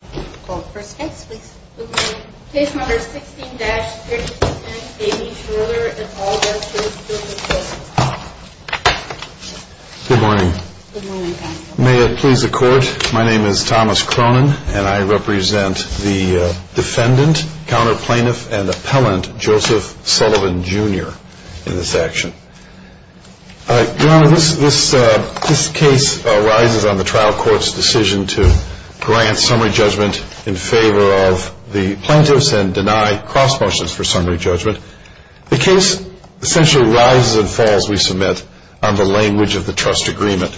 Good morning. May it please the court, my name is Thomas Cronin and I represent the defendant, counter plaintiff and appellant Joseph Sullivan Jr. in this action. Your Honor, this case arises on the trial court's decision to grant summary judgment in favor of the plaintiffs and deny cross motions for summary judgment. The case essentially rises and falls, we submit, on the language of the trust agreement.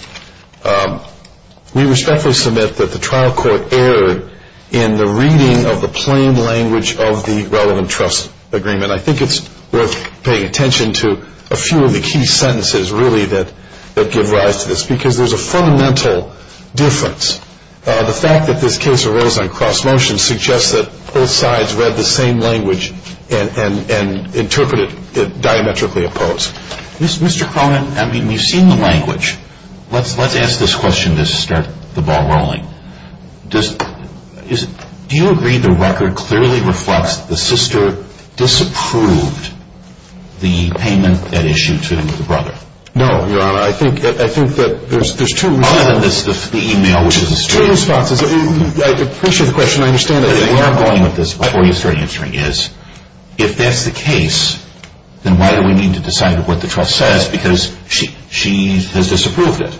We respectfully submit that the trial court erred in the reading of the plain language of the relevant trust agreement. And I think it's worth paying attention to a few of the key sentences really that give rise to this because there's a fundamental difference. The fact that this case arose on cross motion suggests that both sides read the same language and interpreted it diametrically opposed. Mr. Cronin, I mean, we've seen the language. Let's ask this question to start the ball rolling. Do you agree the record clearly reflects the sister disapproved the payment that issued to the brother? No, Your Honor. I think that there's two responses. Other than the email which is a statement. There's two responses. I appreciate the question. I understand it. The way I'm going with this before you start answering is, if that's the case, then why do we need to decide what the trust says because she has disapproved it?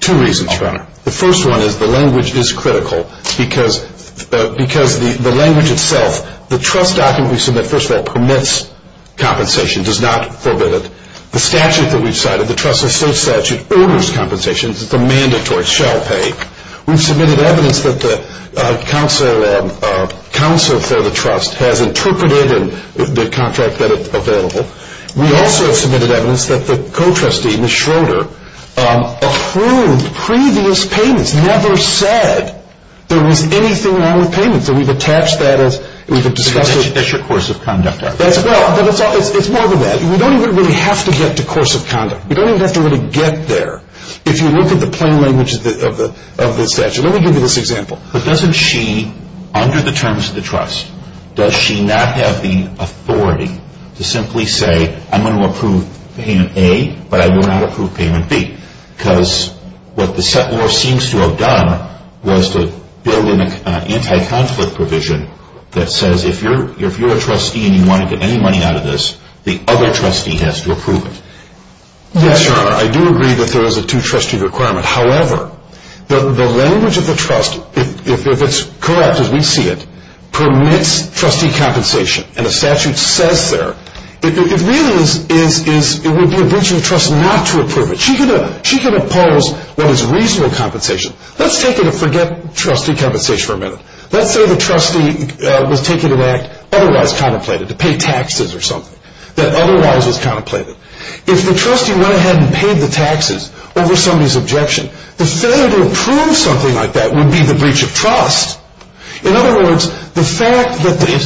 Two reasons, Your Honor. The first one is the language is critical because the language itself, the trust document we submit, first of all, permits compensation, does not forbid it. The statute that we've cited, the trust asserts that it orders compensation. It's a mandatory shell pay. We've submitted evidence that the counsel for the trust has interpreted the contract that is available. We also have submitted evidence that the co-trustee, Ms. Schroeder, approved previous payments, never said there was anything wrong with payments. And we've attached that as we've discussed it. That's your course of conduct, I think. Well, it's more than that. We don't even really have to get to course of conduct. We don't even have to really get there. If you look at the plain language of the statute, let me give you this example. But doesn't she, under the terms of the trust, does she not have the authority to simply say, I'm going to approve payment A, but I will not approve payment B? Because what the set law seems to have done was to build in an anti-conflict provision that says, if you're a trustee and you want to get any money out of this, the other trustee has to approve it. Yes, Your Honor, I do agree that there is a two-trustee requirement. However, the language of the trust, if it's correct as we see it, permits trustee compensation. And the statute says there, it really is, it would be a breach of trust not to approve it. She can oppose what is reasonable compensation. Let's say the trustee was taking an act otherwise contemplated, to pay taxes or something, that otherwise was contemplated. If the trustee went ahead and paid the taxes over somebody's objection, the failure to approve something like that would be the breach of trust. In other words, the fact that the...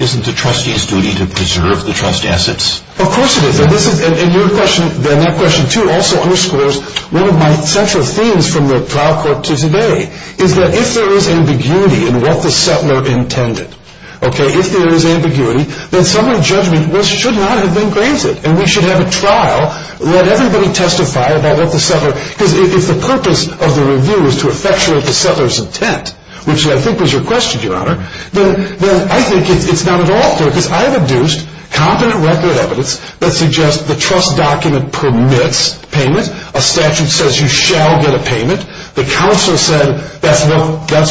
Isn't the trustee's duty to preserve the trust assets? Of course it is. And your question, and that question too, also underscores one of my central themes from the trial court to today, is that if there is ambiguity in what the settler intended, okay? If there is ambiguity, then some of the judgment should not have been granted. And we should have a trial, let everybody testify about what the settler... Because if the purpose of the review is to effectuate the settler's intent, which I think was your question, Your Honor, then I think it's not at all fair, because I have induced competent record evidence that suggests the trust document permits payment. A statute says you shall get a payment. The counsel said that's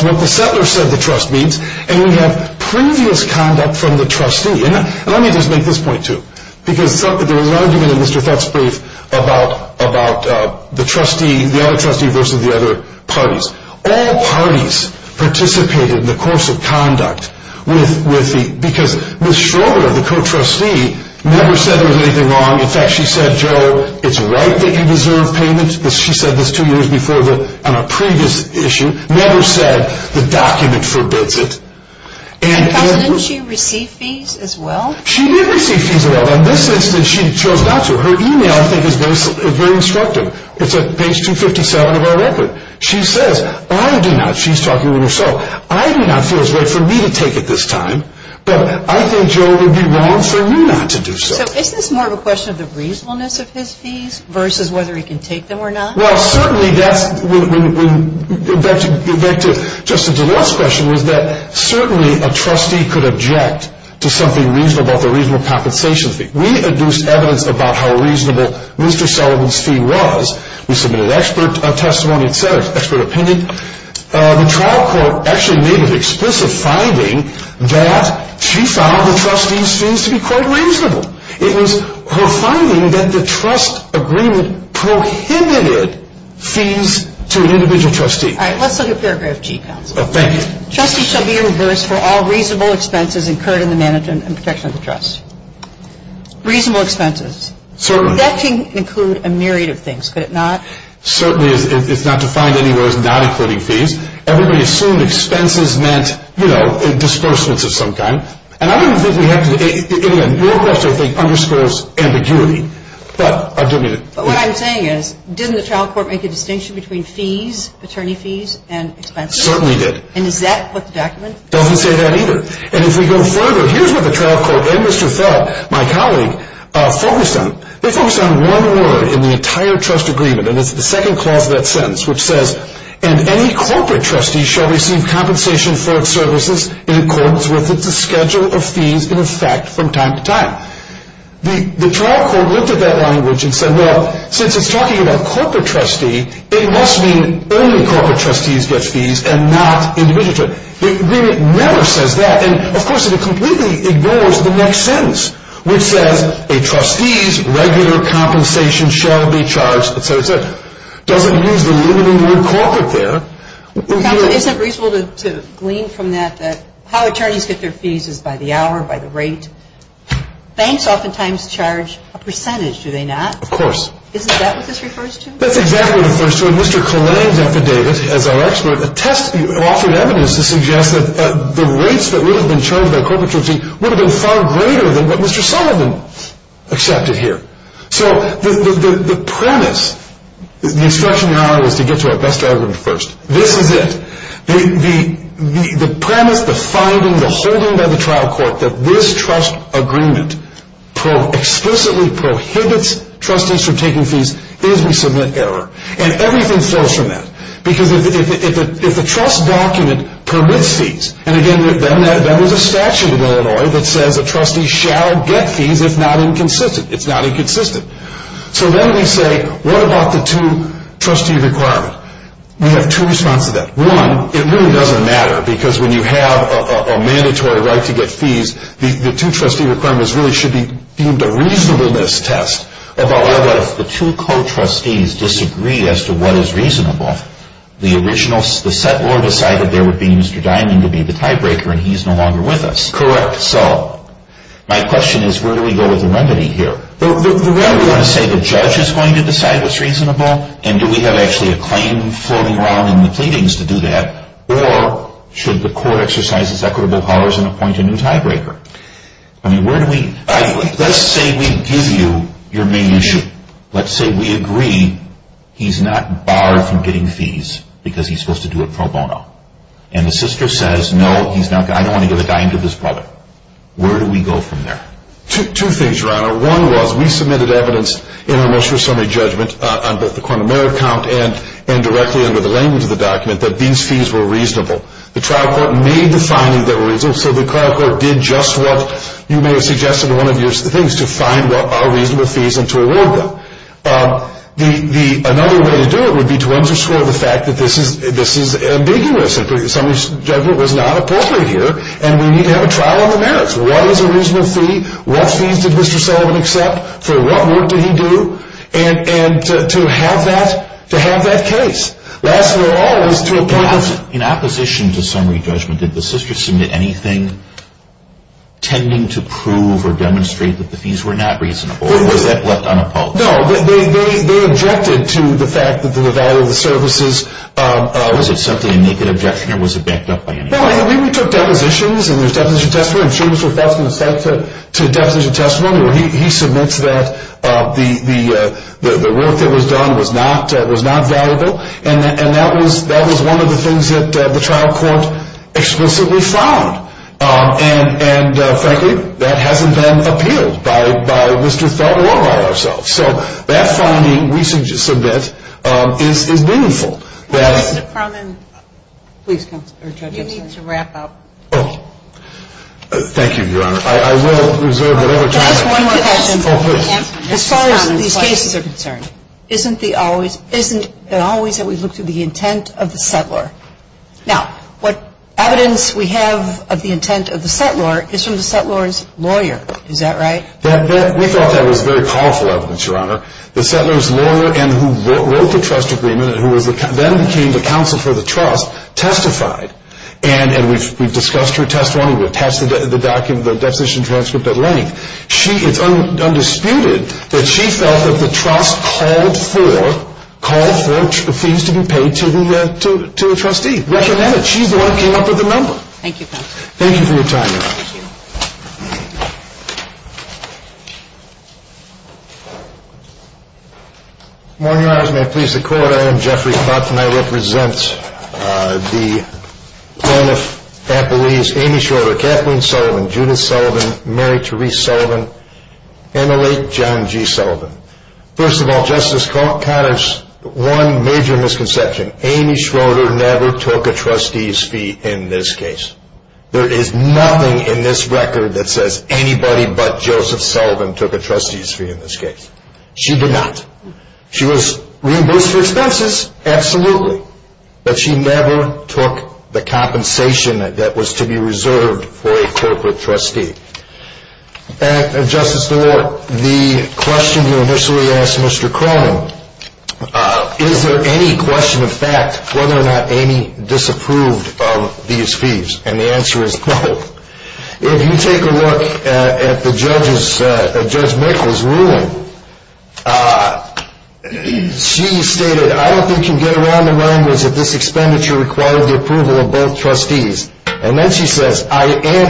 what the settler said the trust means. And we have previous conduct from the trustee. And let me just make this point too. Because there was an argument in Mr. Fett's brief about the other trustee versus the other parties. All parties participated in the course of conduct with the... Because Ms. Schroeder, the co-trustee, never said there was anything wrong. In fact, she said, Joe, it's right that you deserve payment. She said this two years before on a previous issue. Never said the document forbids it. Counsel, didn't she receive fees as well? She did receive fees as well. But in this instance, she chose not to. Her email, I think, is very instructive. It's at page 257 of our record. She says, I do not, she's talking to herself, I do not feel it's right for me to take it this time. But I think, Joe, it would be wrong for you not to do so. So is this more of a question of the reasonableness of his fees versus whether he can take them or not? Well, certainly that's... Back to Justin DeLort's question was that certainly a trustee could object to something reasonable about the reasonable compensation fee. We induced evidence about how reasonable Mr. Sullivan's fee was. We submitted expert testimony, etc., expert opinion. The trial court actually made an explicit finding that she found the trustee's fees to be quite reasonable. It was her finding that the trust agreement prohibited fees to an individual trustee. All right, let's look at paragraph G, counsel. Thank you. Trustee shall be reversed for all reasonable expenses incurred in the management and protection of the trust. Reasonable expenses. Certainly. That can include a myriad of things, could it not? Certainly, it's not defined anywhere as not including fees. Everybody assumed expenses meant, you know, disbursements of some kind. And I don't think we have to... Your question, I think, underscores ambiguity. But what I'm saying is, didn't the trial court make a distinction between fees, attorney fees, and expenses? Certainly did. And does that put the document? Doesn't say that either. And if we go further, here's what the trial court and Mr. Fell, my colleague, focused on. They focused on one word in the entire trust agreement, and it's the second clause of that sentence, which says, and any corporate trustee shall receive compensation for its services in accordance with its schedule of fees in effect from time to time. The trial court looked at that language and said, well, since it's talking about corporate trustee, it must mean only corporate trustees get fees and not individual. The agreement never says that. And, of course, it completely ignores the next sentence, which says, a trustee's regular compensation shall be charged, et cetera, et cetera. Doesn't use the limiting word corporate there. Counsel, isn't it reasonable to glean from that that how attorneys get their fees is by the hour, by the rate? Banks oftentimes charge a percentage, do they not? Of course. Isn't that what this refers to? That's exactly what it refers to. As our expert, a test offered evidence to suggest that the rates that would have been charged by a corporate trustee would have been far greater than what Mr. Sullivan accepted here. So the premise, the instruction now is to get to our best argument first. This is it. The premise, the finding, the holding by the trial court that this trust agreement explicitly prohibits trustees from taking fees is we submit error. And everything flows from that. Because if a trust document permits fees, and, again, that was a statute in Illinois that says a trustee shall get fees if not inconsistent. It's not inconsistent. So then we say, what about the two-trustee requirement? We have two responses to that. One, it really doesn't matter because when you have a mandatory right to get fees, the two-trustee requirement really should be deemed a reasonableness test. But if the two co-trustees disagree as to what is reasonable, the original, the settlor decided there would be Mr. Diamond to be the tiebreaker, and he's no longer with us. Correct. So my question is, where do we go with the remedy here? The remedy, you want to say the judge is going to decide what's reasonable? And do we have actually a claim floating around in the pleadings to do that? Or should the court exercise its equitable powers and appoint a new tiebreaker? Let's say we give you your main issue. Let's say we agree he's not barred from getting fees because he's supposed to do it pro bono. And the sister says, no, I don't want to give a dime to this brother. Where do we go from there? Two things, Your Honor. One was we submitted evidence in our motion for summary judgment on both the quantum merit count and directly under the language of the document that these fees were reasonable. The trial court made the findings that were reasonable, so the trial court did just what you may have suggested in one of your things, to find what are reasonable fees and to award them. Another way to do it would be to underscore the fact that this is ambiguous. Summary judgment was not appropriate here, and we need to have a trial on the merits. What is a reasonable fee? What fees did Mr. Sullivan accept? For what work did he do? And to have that case. In opposition to summary judgment, did the sister submit anything tending to prove or demonstrate that the fees were not reasonable, or was that left unopposed? No, they objected to the fact that the value of the services. Was it simply a naked objection, or was it backed up by anybody? We took depositions, and there's a definition of testimony. I'm sure Mr. Faulkner has sent to a definition of testimony, where he submits that the work that was done was not valuable. And that was one of the things that the trial court explicitly found. And frankly, that hasn't been appealed by Mr. Feld or by ourselves. So that finding we submit is meaningful. Mr. Croman, you need to wrap up. Thank you, Your Honor. I will reserve whatever time I have. Can I ask one more question? As far as these cases are concerned, isn't it always that we look to the intent of the settlor? Now, what evidence we have of the intent of the settlor is from the settlor's lawyer. Is that right? We thought that was very powerful evidence, Your Honor. The settlor's lawyer, and who wrote the trust agreement, and who then became the counsel for the trust, testified. And we've discussed her testimony. We've attached the definition transcript at length. It's undisputed that she felt that the trust called for fees to be paid to a trustee. Recommend it. She's the one who came up with the number. Thank you, counsel. Thank you for your time, Your Honor. Thank you. Morning, Your Honors. May it please the Court, I am Jeffrey Klotz, and I represent the plaintiff at Belize, Amy Schroeder, Kathleen Sullivan, Judith Sullivan, Mary Therese Sullivan, and the late John G. Sullivan. First of all, Justice Cotter's one major misconception, Amy Schroeder never took a trustee's fee in this case. There is nothing in this record that says anybody but Joseph Sullivan took a trustee's fee in this case. She did not. She was reimbursed for expenses. Absolutely. But she never took the compensation that was to be reserved for a corporate trustee. And, Justice DeWart, the question you initially asked Mr. Cronin, is there any question of fact whether or not Amy disapproved of these fees? And the answer is no. If you take a look at Judge Mikkel's ruling, she stated, I don't think you can get around the language that this expenditure required the approval of both trustees. And then she says, and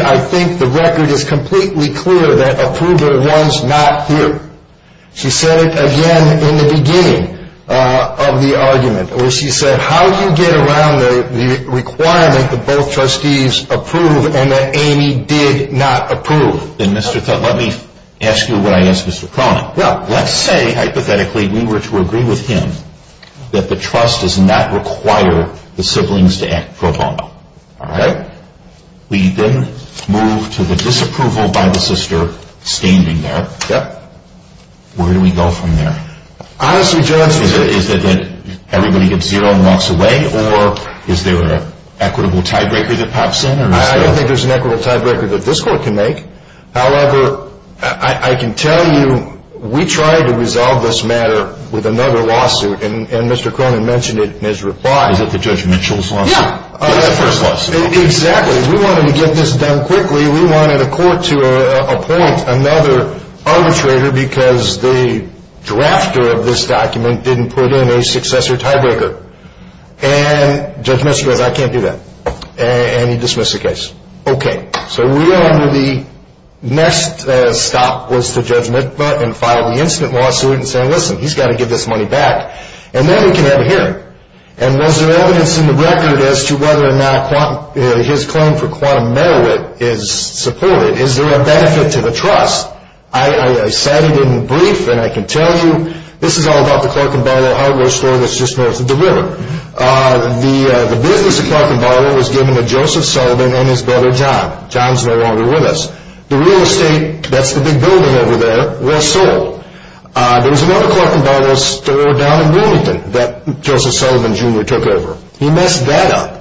I think the record is completely clear that approval runs not here. She said it again in the beginning of the argument, or she said, how do you get around the requirement that both trustees approve and that Amy did not approve? And, Mr. Cotter, let me ask you what I asked Mr. Cronin. Well, let's say, hypothetically, we were to agree with him that the trust does not require the siblings to act pro bono. All right? We then move to the disapproval by the sister standing there. Yep. Where do we go from there? Honestly, Judge. Is it that everybody gets zero and walks away, or is there an equitable tiebreaker that pops in? I don't think there's an equitable tiebreaker that this court can make. However, I can tell you we tried to resolve this matter with another lawsuit, and Mr. Cronin mentioned it in his reply. Is it the Judge Mitchell's lawsuit? Yeah. It was the first lawsuit. Exactly. We wanted to get this done quickly. We wanted a court to appoint another arbitrator because the drafter of this document didn't put in a successor tiebreaker. And Judge Mitchell goes, I can't do that. And he dismissed the case. Okay. So we are under the next stop was to Judge Mitva and file the incident lawsuit and say, listen, he's got to get this money back. And then we can have a hearing. And was there evidence in the record as to whether or not his claim for quantum merit is supported? Is there a benefit to the trust? I cited it in the brief, and I can tell you this is all about the Clark & Barlow hardware store that's just north of the river. The business of Clark & Barlow was given to Joseph Sullivan and his brother John. John's no longer with us. The real estate, that's the big building over there, was sold. There was another Clark & Barlow store down in Wilmington that Joseph Sullivan Jr. took over. He messed that up.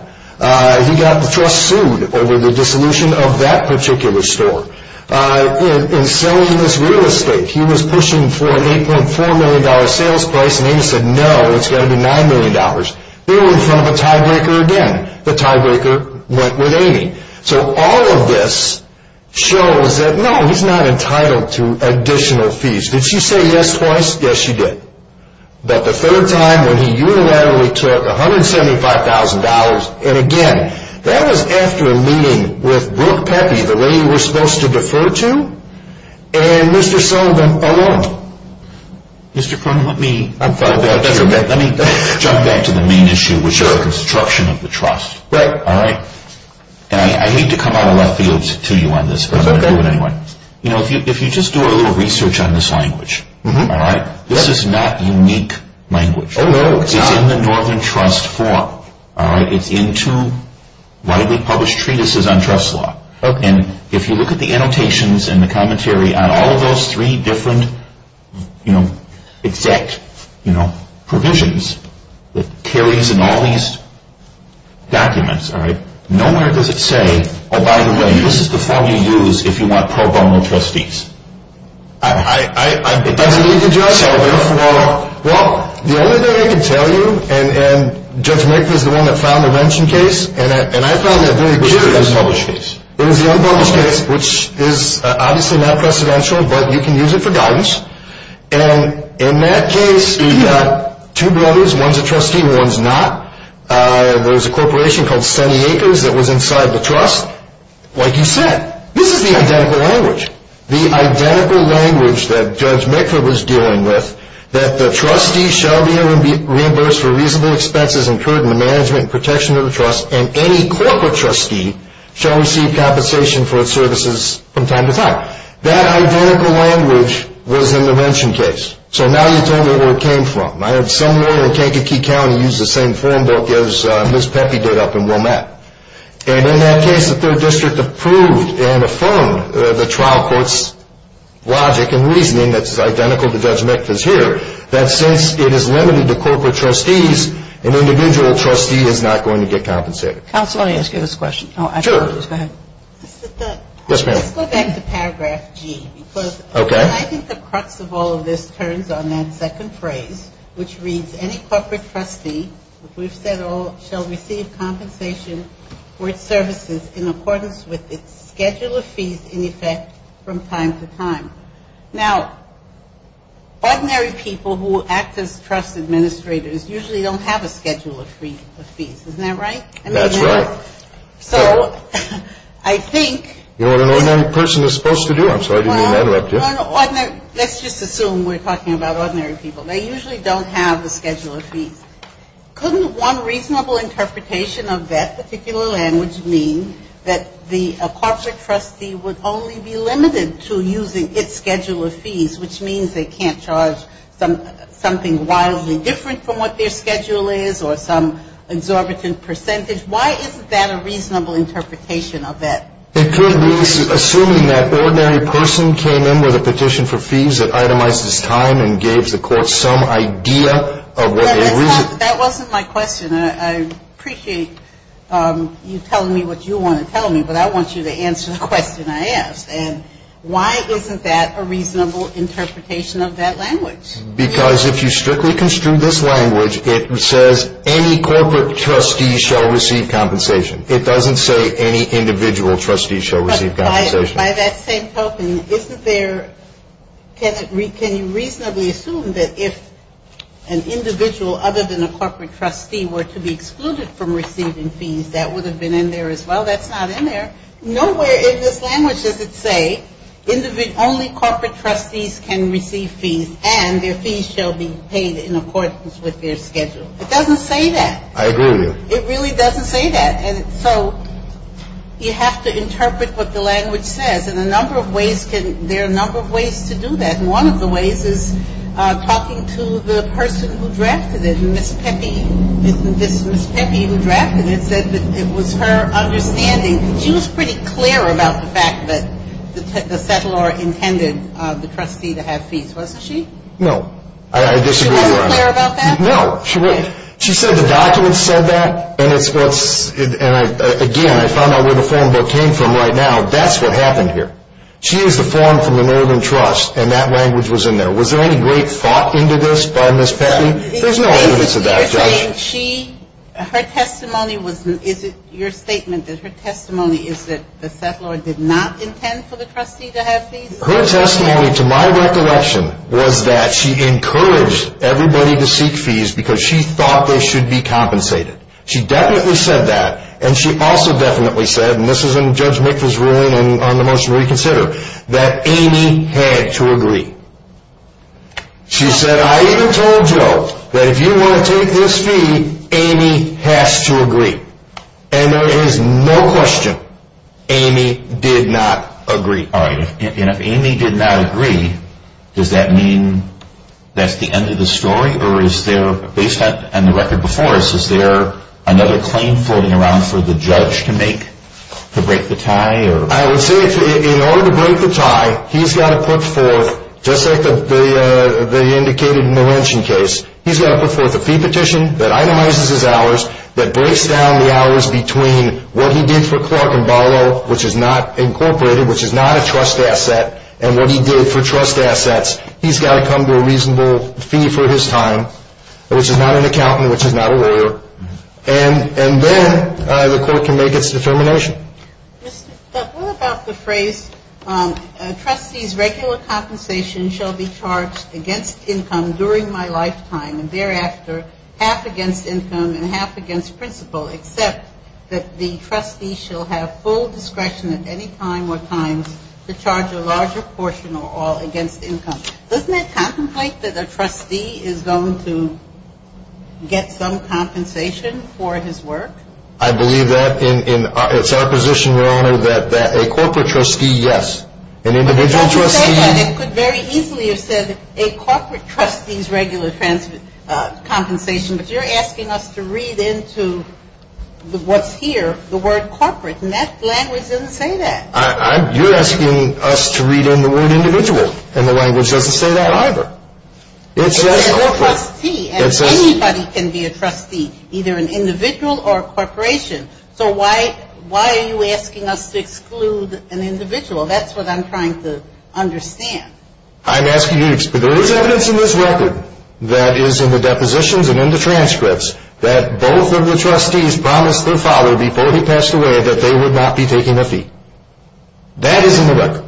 He got the trust sued over the dissolution of that particular store. In selling this real estate, he was pushing for an $8.4 million sales price, and Amy said, no, it's got to be $9 million. They were in front of a tiebreaker again. The tiebreaker went with Amy. So all of this shows that, no, he's not entitled to additional fees. Did she say yes twice? Yes, she did. But the third time when he unilaterally took $175,000, and again, that was after meeting with Brooke Pepe, the lady we're supposed to defer to, and Mr. Sullivan alone. Mr. Cronin, let me jump back to the main issue, which is the construction of the trust. I hate to come out of left field to you on this, but I'm going to do it anyway. If you just do a little research on this language, this is not unique language. It's in the Northern Trust 4. It's in two widely published treatises on trust law. And if you look at the annotations and the commentary on all of those three different, you know, exact, you know, provisions that carries in all these documents, all right, nowhere does it say, oh, by the way, this is the form you use if you want pro bono trustees. Well, the only thing I can tell you, and Judge Maker is the one that found the mentioned case, and I found that very curious. It was the unpublished case. It was the unpublished case, which is obviously not precedential, but you can use it for guidance. And in that case, you've got two brothers. One's a trustee and one's not. There was a corporation called Sunny Acres that was inside the trust. Like you said, this is the identical language. The identical language that Judge Maker was dealing with, that the trustee shall be reimbursed for reasonable expenses incurred in the management and protection of the trust, and any corporate trustee shall receive compensation for its services from time to time. That identical language was in the mentioned case. So now you tell me where it came from. I had someone in Kankakee County use the same form book as Ms. Pepe did up in Wilmette. And in that case, the third district approved and affirmed the trial court's logic and reasoning that's identical to Judge Maker's here, that since it is limited to corporate trustees, an individual trustee is not going to get compensated. Counsel, let me ask you this question. Sure. Go ahead. Yes, ma'am. Let's go back to paragraph G. Okay. I think the crux of all of this turns on that second phrase, which reads, any corporate trustee, as we've said all, shall receive compensation for its services in accordance with its schedule of fees in effect from time to time. Now, ordinary people who act as trust administrators usually don't have a schedule of fees. Isn't that right? That's right. So I think... You know what an ordinary person is supposed to do. Let's just assume we're talking about ordinary people. They usually don't have a schedule of fees. Couldn't one reasonable interpretation of that particular language mean that the corporate trustee would only be limited to using its schedule of fees, which means they can't charge something wildly different from what their schedule is or some exorbitant percentage? Why isn't that a reasonable interpretation of that? It could be assuming that ordinary person came in with a petition for fees that itemized its time and gave the court some idea of what a reasonable... That wasn't my question. I appreciate you telling me what you want to tell me, but I want you to answer the question I asked. And why isn't that a reasonable interpretation of that language? Because if you strictly construe this language, it says, any corporate trustee shall receive compensation. It doesn't say any individual trustee shall receive compensation. But by that same token, isn't there... Can you reasonably assume that if an individual other than a corporate trustee were to be excluded from receiving fees, that would have been in there as well? That's not in there. Nowhere in this language does it say only corporate trustees can receive fees and their fees shall be paid in accordance with their schedule. It doesn't say that. I agree with you. It really doesn't say that. And so you have to interpret what the language says. And a number of ways can... There are a number of ways to do that. And one of the ways is talking to the person who drafted it. And Ms. Pepe, this Ms. Pepe who drafted it, said that it was her understanding. She was pretty clear about the fact that the settlor intended the trustee to have fees, wasn't she? No. I disagree with her on that. She wasn't clear about that? No, she wasn't. She said the documents said that, and it's what's... And, again, I found out where the form book came from right now. That's what happened here. She used the form from the Northern Trust, and that language was in there. Was there any great thought into this by Ms. Pepe? There's no evidence of that, Judge. You're saying she... Her testimony was... Is it your statement that her testimony is that the settlor did not intend for the trustee to have fees? Her testimony, to my recollection, was that she encouraged everybody to seek fees because she thought they should be compensated. She definitely said that. And she also definitely said, and this is in Judge McPherson's ruling on the motion to reconsider, that Amy had to agree. She said, I even told Joe that if you want to take this fee, Amy has to agree. And there is no question, Amy did not agree. All right. And if Amy did not agree, does that mean that's the end of the story? Or is there, based on the record before us, is there another claim floating around for the judge to make to break the tie? I would say in order to break the tie, he's got to put forth, just like they indicated in the lynching case, he's got to put forth a fee petition that itemizes his hours, that breaks down the hours between what he did for Clark and Barlow, which is not incorporated, which is not a trust asset, and what he did for trust assets. He's got to come to a reasonable fee for his time, which is not an accountant, which is not a lawyer. And then the court can make its determination. But what about the phrase, trustees' regular compensation shall be charged against income during my lifetime, and thereafter half against income and half against principal, except that the trustee shall have full discretion at any time or times to charge a larger portion or all against income. Doesn't that contemplate that a trustee is going to get some compensation for his work? I believe that. It's our position, Your Honor, that a corporate trustee, yes. It could very easily have said a corporate trustee's regular compensation, but you're asking us to read into what's here the word corporate, and that language doesn't say that. You're asking us to read in the word individual, and the language doesn't say that either. It's just corporate. It's a trustee, and anybody can be a trustee, either an individual or a corporation. So why are you asking us to exclude an individual? That's what I'm trying to understand. I'm asking you, there is evidence in this record that is in the depositions and in the transcripts that both of the trustees promised their father before he passed away that they would not be taking a fee. That is in the record,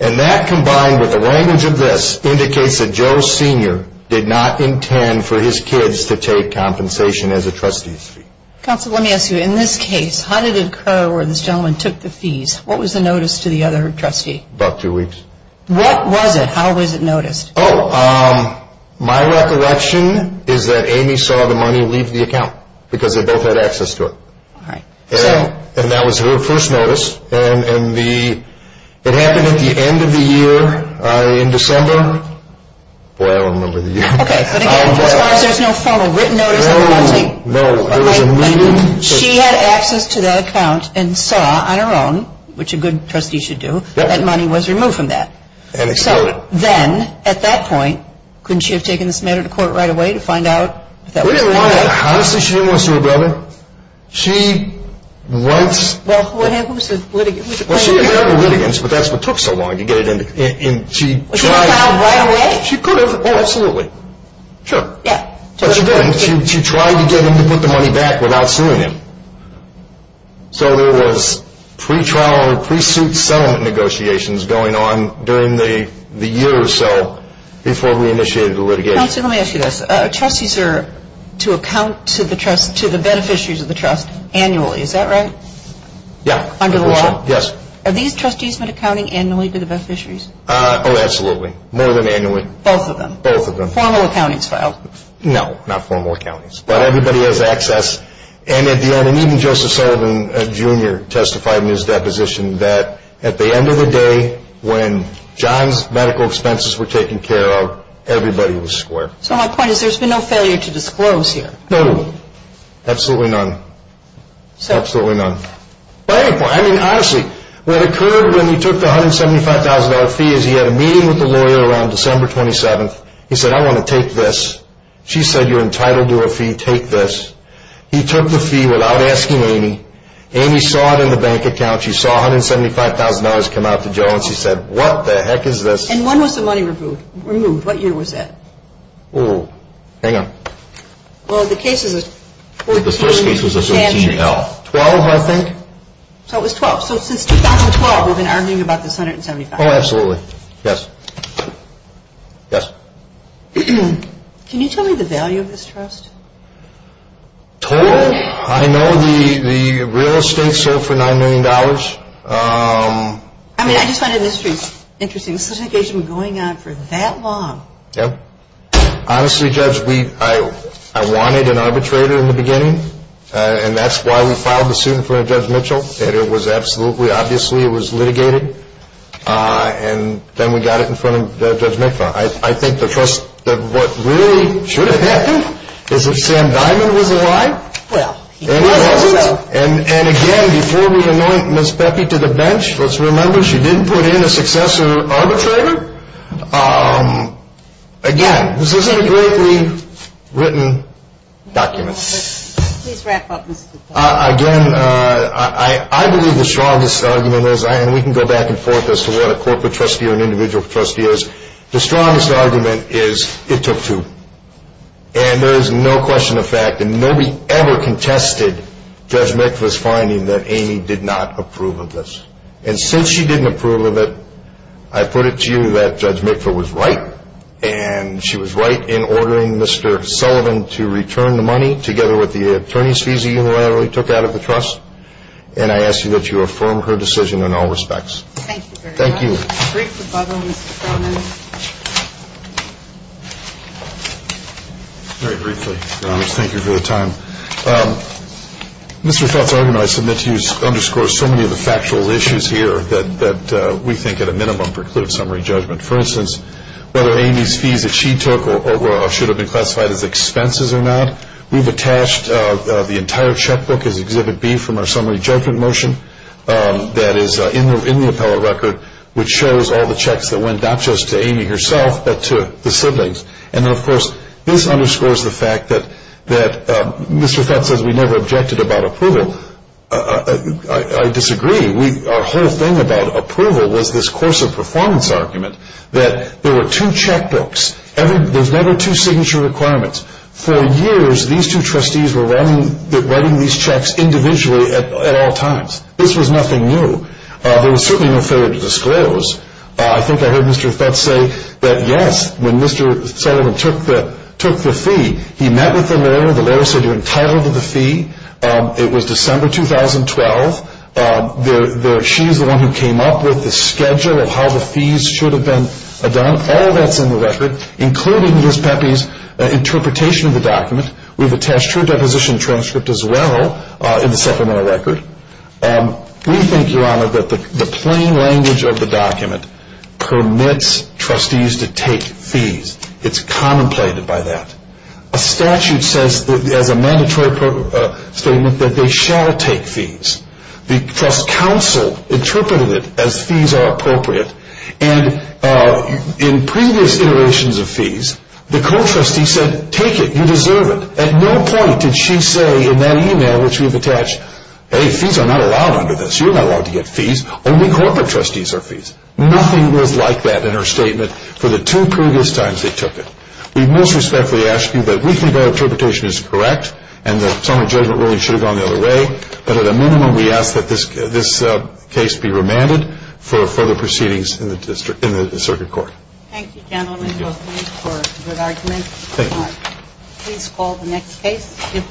and that combined with the language of this indicates that Joe Sr. did not intend for his kids to take compensation as a trustee's fee. Counsel, let me ask you. In this case, how did it occur where this gentleman took the fees? What was the notice to the other trustee? About two weeks. What was it? How was it noticed? Oh, my recollection is that Amy saw the money leave the account because they both had access to it. All right. And that was her first notice, and it happened at the end of the year in December. Boy, I don't remember the year. Okay, but again, as far as there's no photo, written notice of the money? No, there was a meeting. She had access to that account and saw on her own, which a good trustee should do, that money was removed from that. And expired. So then, at that point, couldn't she have taken this matter to court right away to find out if that was the case? We didn't want to. Honestly, she didn't want to sue her brother. She wants to. Well, who was the litigant? Well, she didn't have the litigants, but that's what took so long to get it in. She was found right away? She could have. Oh, absolutely. Sure. Yeah. But she didn't. She tried to get them to put the money back without suing him. So there was pre-trial or pre-suit settlement negotiations going on during the year or so before we initiated the litigation. Counselor, let me ask you this. Trustees are to account to the beneficiaries of the trust annually. Is that right? Yeah. Under the law? Yes. Are these trustees meant accounting annually to the beneficiaries? Oh, absolutely. More than annually. Both of them? Both of them. So no formal accountings filed? No, not formal accountings. But everybody has access. And at the end, even Joseph Sullivan Jr. testified in his deposition that at the end of the day, when John's medical expenses were taken care of, everybody was square. So my point is there's been no failure to disclose here. No. Absolutely none. Absolutely none. But at any point, I mean, honestly, what occurred when he took the $175,000 fee is he had a meeting with the lawyer around December 27th. He said, I want to take this. She said, you're entitled to a fee. Take this. He took the fee without asking Amy. Amy saw it in the bank account. She saw $175,000 come out to Joe, and she said, what the heck is this? And when was the money removed? What year was that? Oh, hang on. Well, the case is a 14- The first case was a 14-L. 12, I think. So it was 12. So since 2012, we've been arguing about this $175,000. Oh, absolutely. Yes. Yes. Can you tell me the value of this trust? Total? I know the real estate sold for $9 million. I mean, I just find it interesting. This litigation was going on for that long. Yep. Honestly, Judge, I wanted an arbitrator in the beginning, and that's why we filed the suit in front of Judge Mitchell. It was absolutely, obviously, it was litigated. And then we got it in front of Judge McFarland. I think the first, what really should have happened is if Sam Diamond was alive. Well, he wasn't. He wasn't. And again, before we anoint Ms. Pecky to the bench, let's remember, she didn't put in a successor arbitrator. Again, this isn't a greatly written document. Please wrap up, Mr. Daly. Again, I believe the strongest argument is, and we can go back and forth as to what a corporate trustee or an individual trustee is, the strongest argument is it took two. And there is no question of fact that nobody ever contested Judge McFarland's finding that Amy did not approve of this. And since she didn't approve of it, I put it to you that Judge McFarland was right, and she was right in ordering Mr. Sullivan to return the money together with the attorney's fees he unilaterally took out of the trust. And I ask you that you affirm her decision in all respects. Thank you very much. A brief rebuttal, Mr. Feldman. Very briefly, Your Honor. Thank you for the time. Mr. Feldman, I submit to you, underscores so many of the factual issues here that we think at a minimum preclude summary judgment. For instance, whether Amy's fees that she took should have been classified as expenses or not. We've attached the entire checkbook as Exhibit B from our summary judgment motion that is in the appellate record, which shows all the checks that went not just to Amy herself but to the siblings. And then, of course, this underscores the fact that Mr. Fett says we never objected about approval. I disagree. Our whole thing about approval was this course of performance argument that there were two checkbooks. There's never two signature requirements. For years, these two trustees were writing these checks individually at all times. This was nothing new. There was certainly no failure to disclose. I think I heard Mr. Fett say that, yes, when Mr. Sullivan took the fee, he met with the lawyer. The lawyer said you're entitled to the fee. It was December 2012. She's the one who came up with the schedule of how the fees should have been done. All that's in the record, including Ms. Pepe's interpretation of the document. We've attached her deposition transcript as well in the supplemental record. We think, Your Honor, that the plain language of the document permits trustees to take fees. It's contemplated by that. A statute says as a mandatory statement that they shall take fees. The trust counsel interpreted it as fees are appropriate. And in previous iterations of fees, the co-trustee said take it. You deserve it. At no point did she say in that e-mail which we've attached, hey, fees are not allowed under this. You're not allowed to get fees. Only corporate trustees are fees. Nothing was like that in her statement for the two previous times they took it. We most respectfully ask you that we think our interpretation is correct and that some of the judgment really should have gone the other way, but at a minimum we ask that this case be remanded for further proceedings in the circuit court. Thank you, gentlemen, both of you, for a good argument. Thank you. Please call the next case.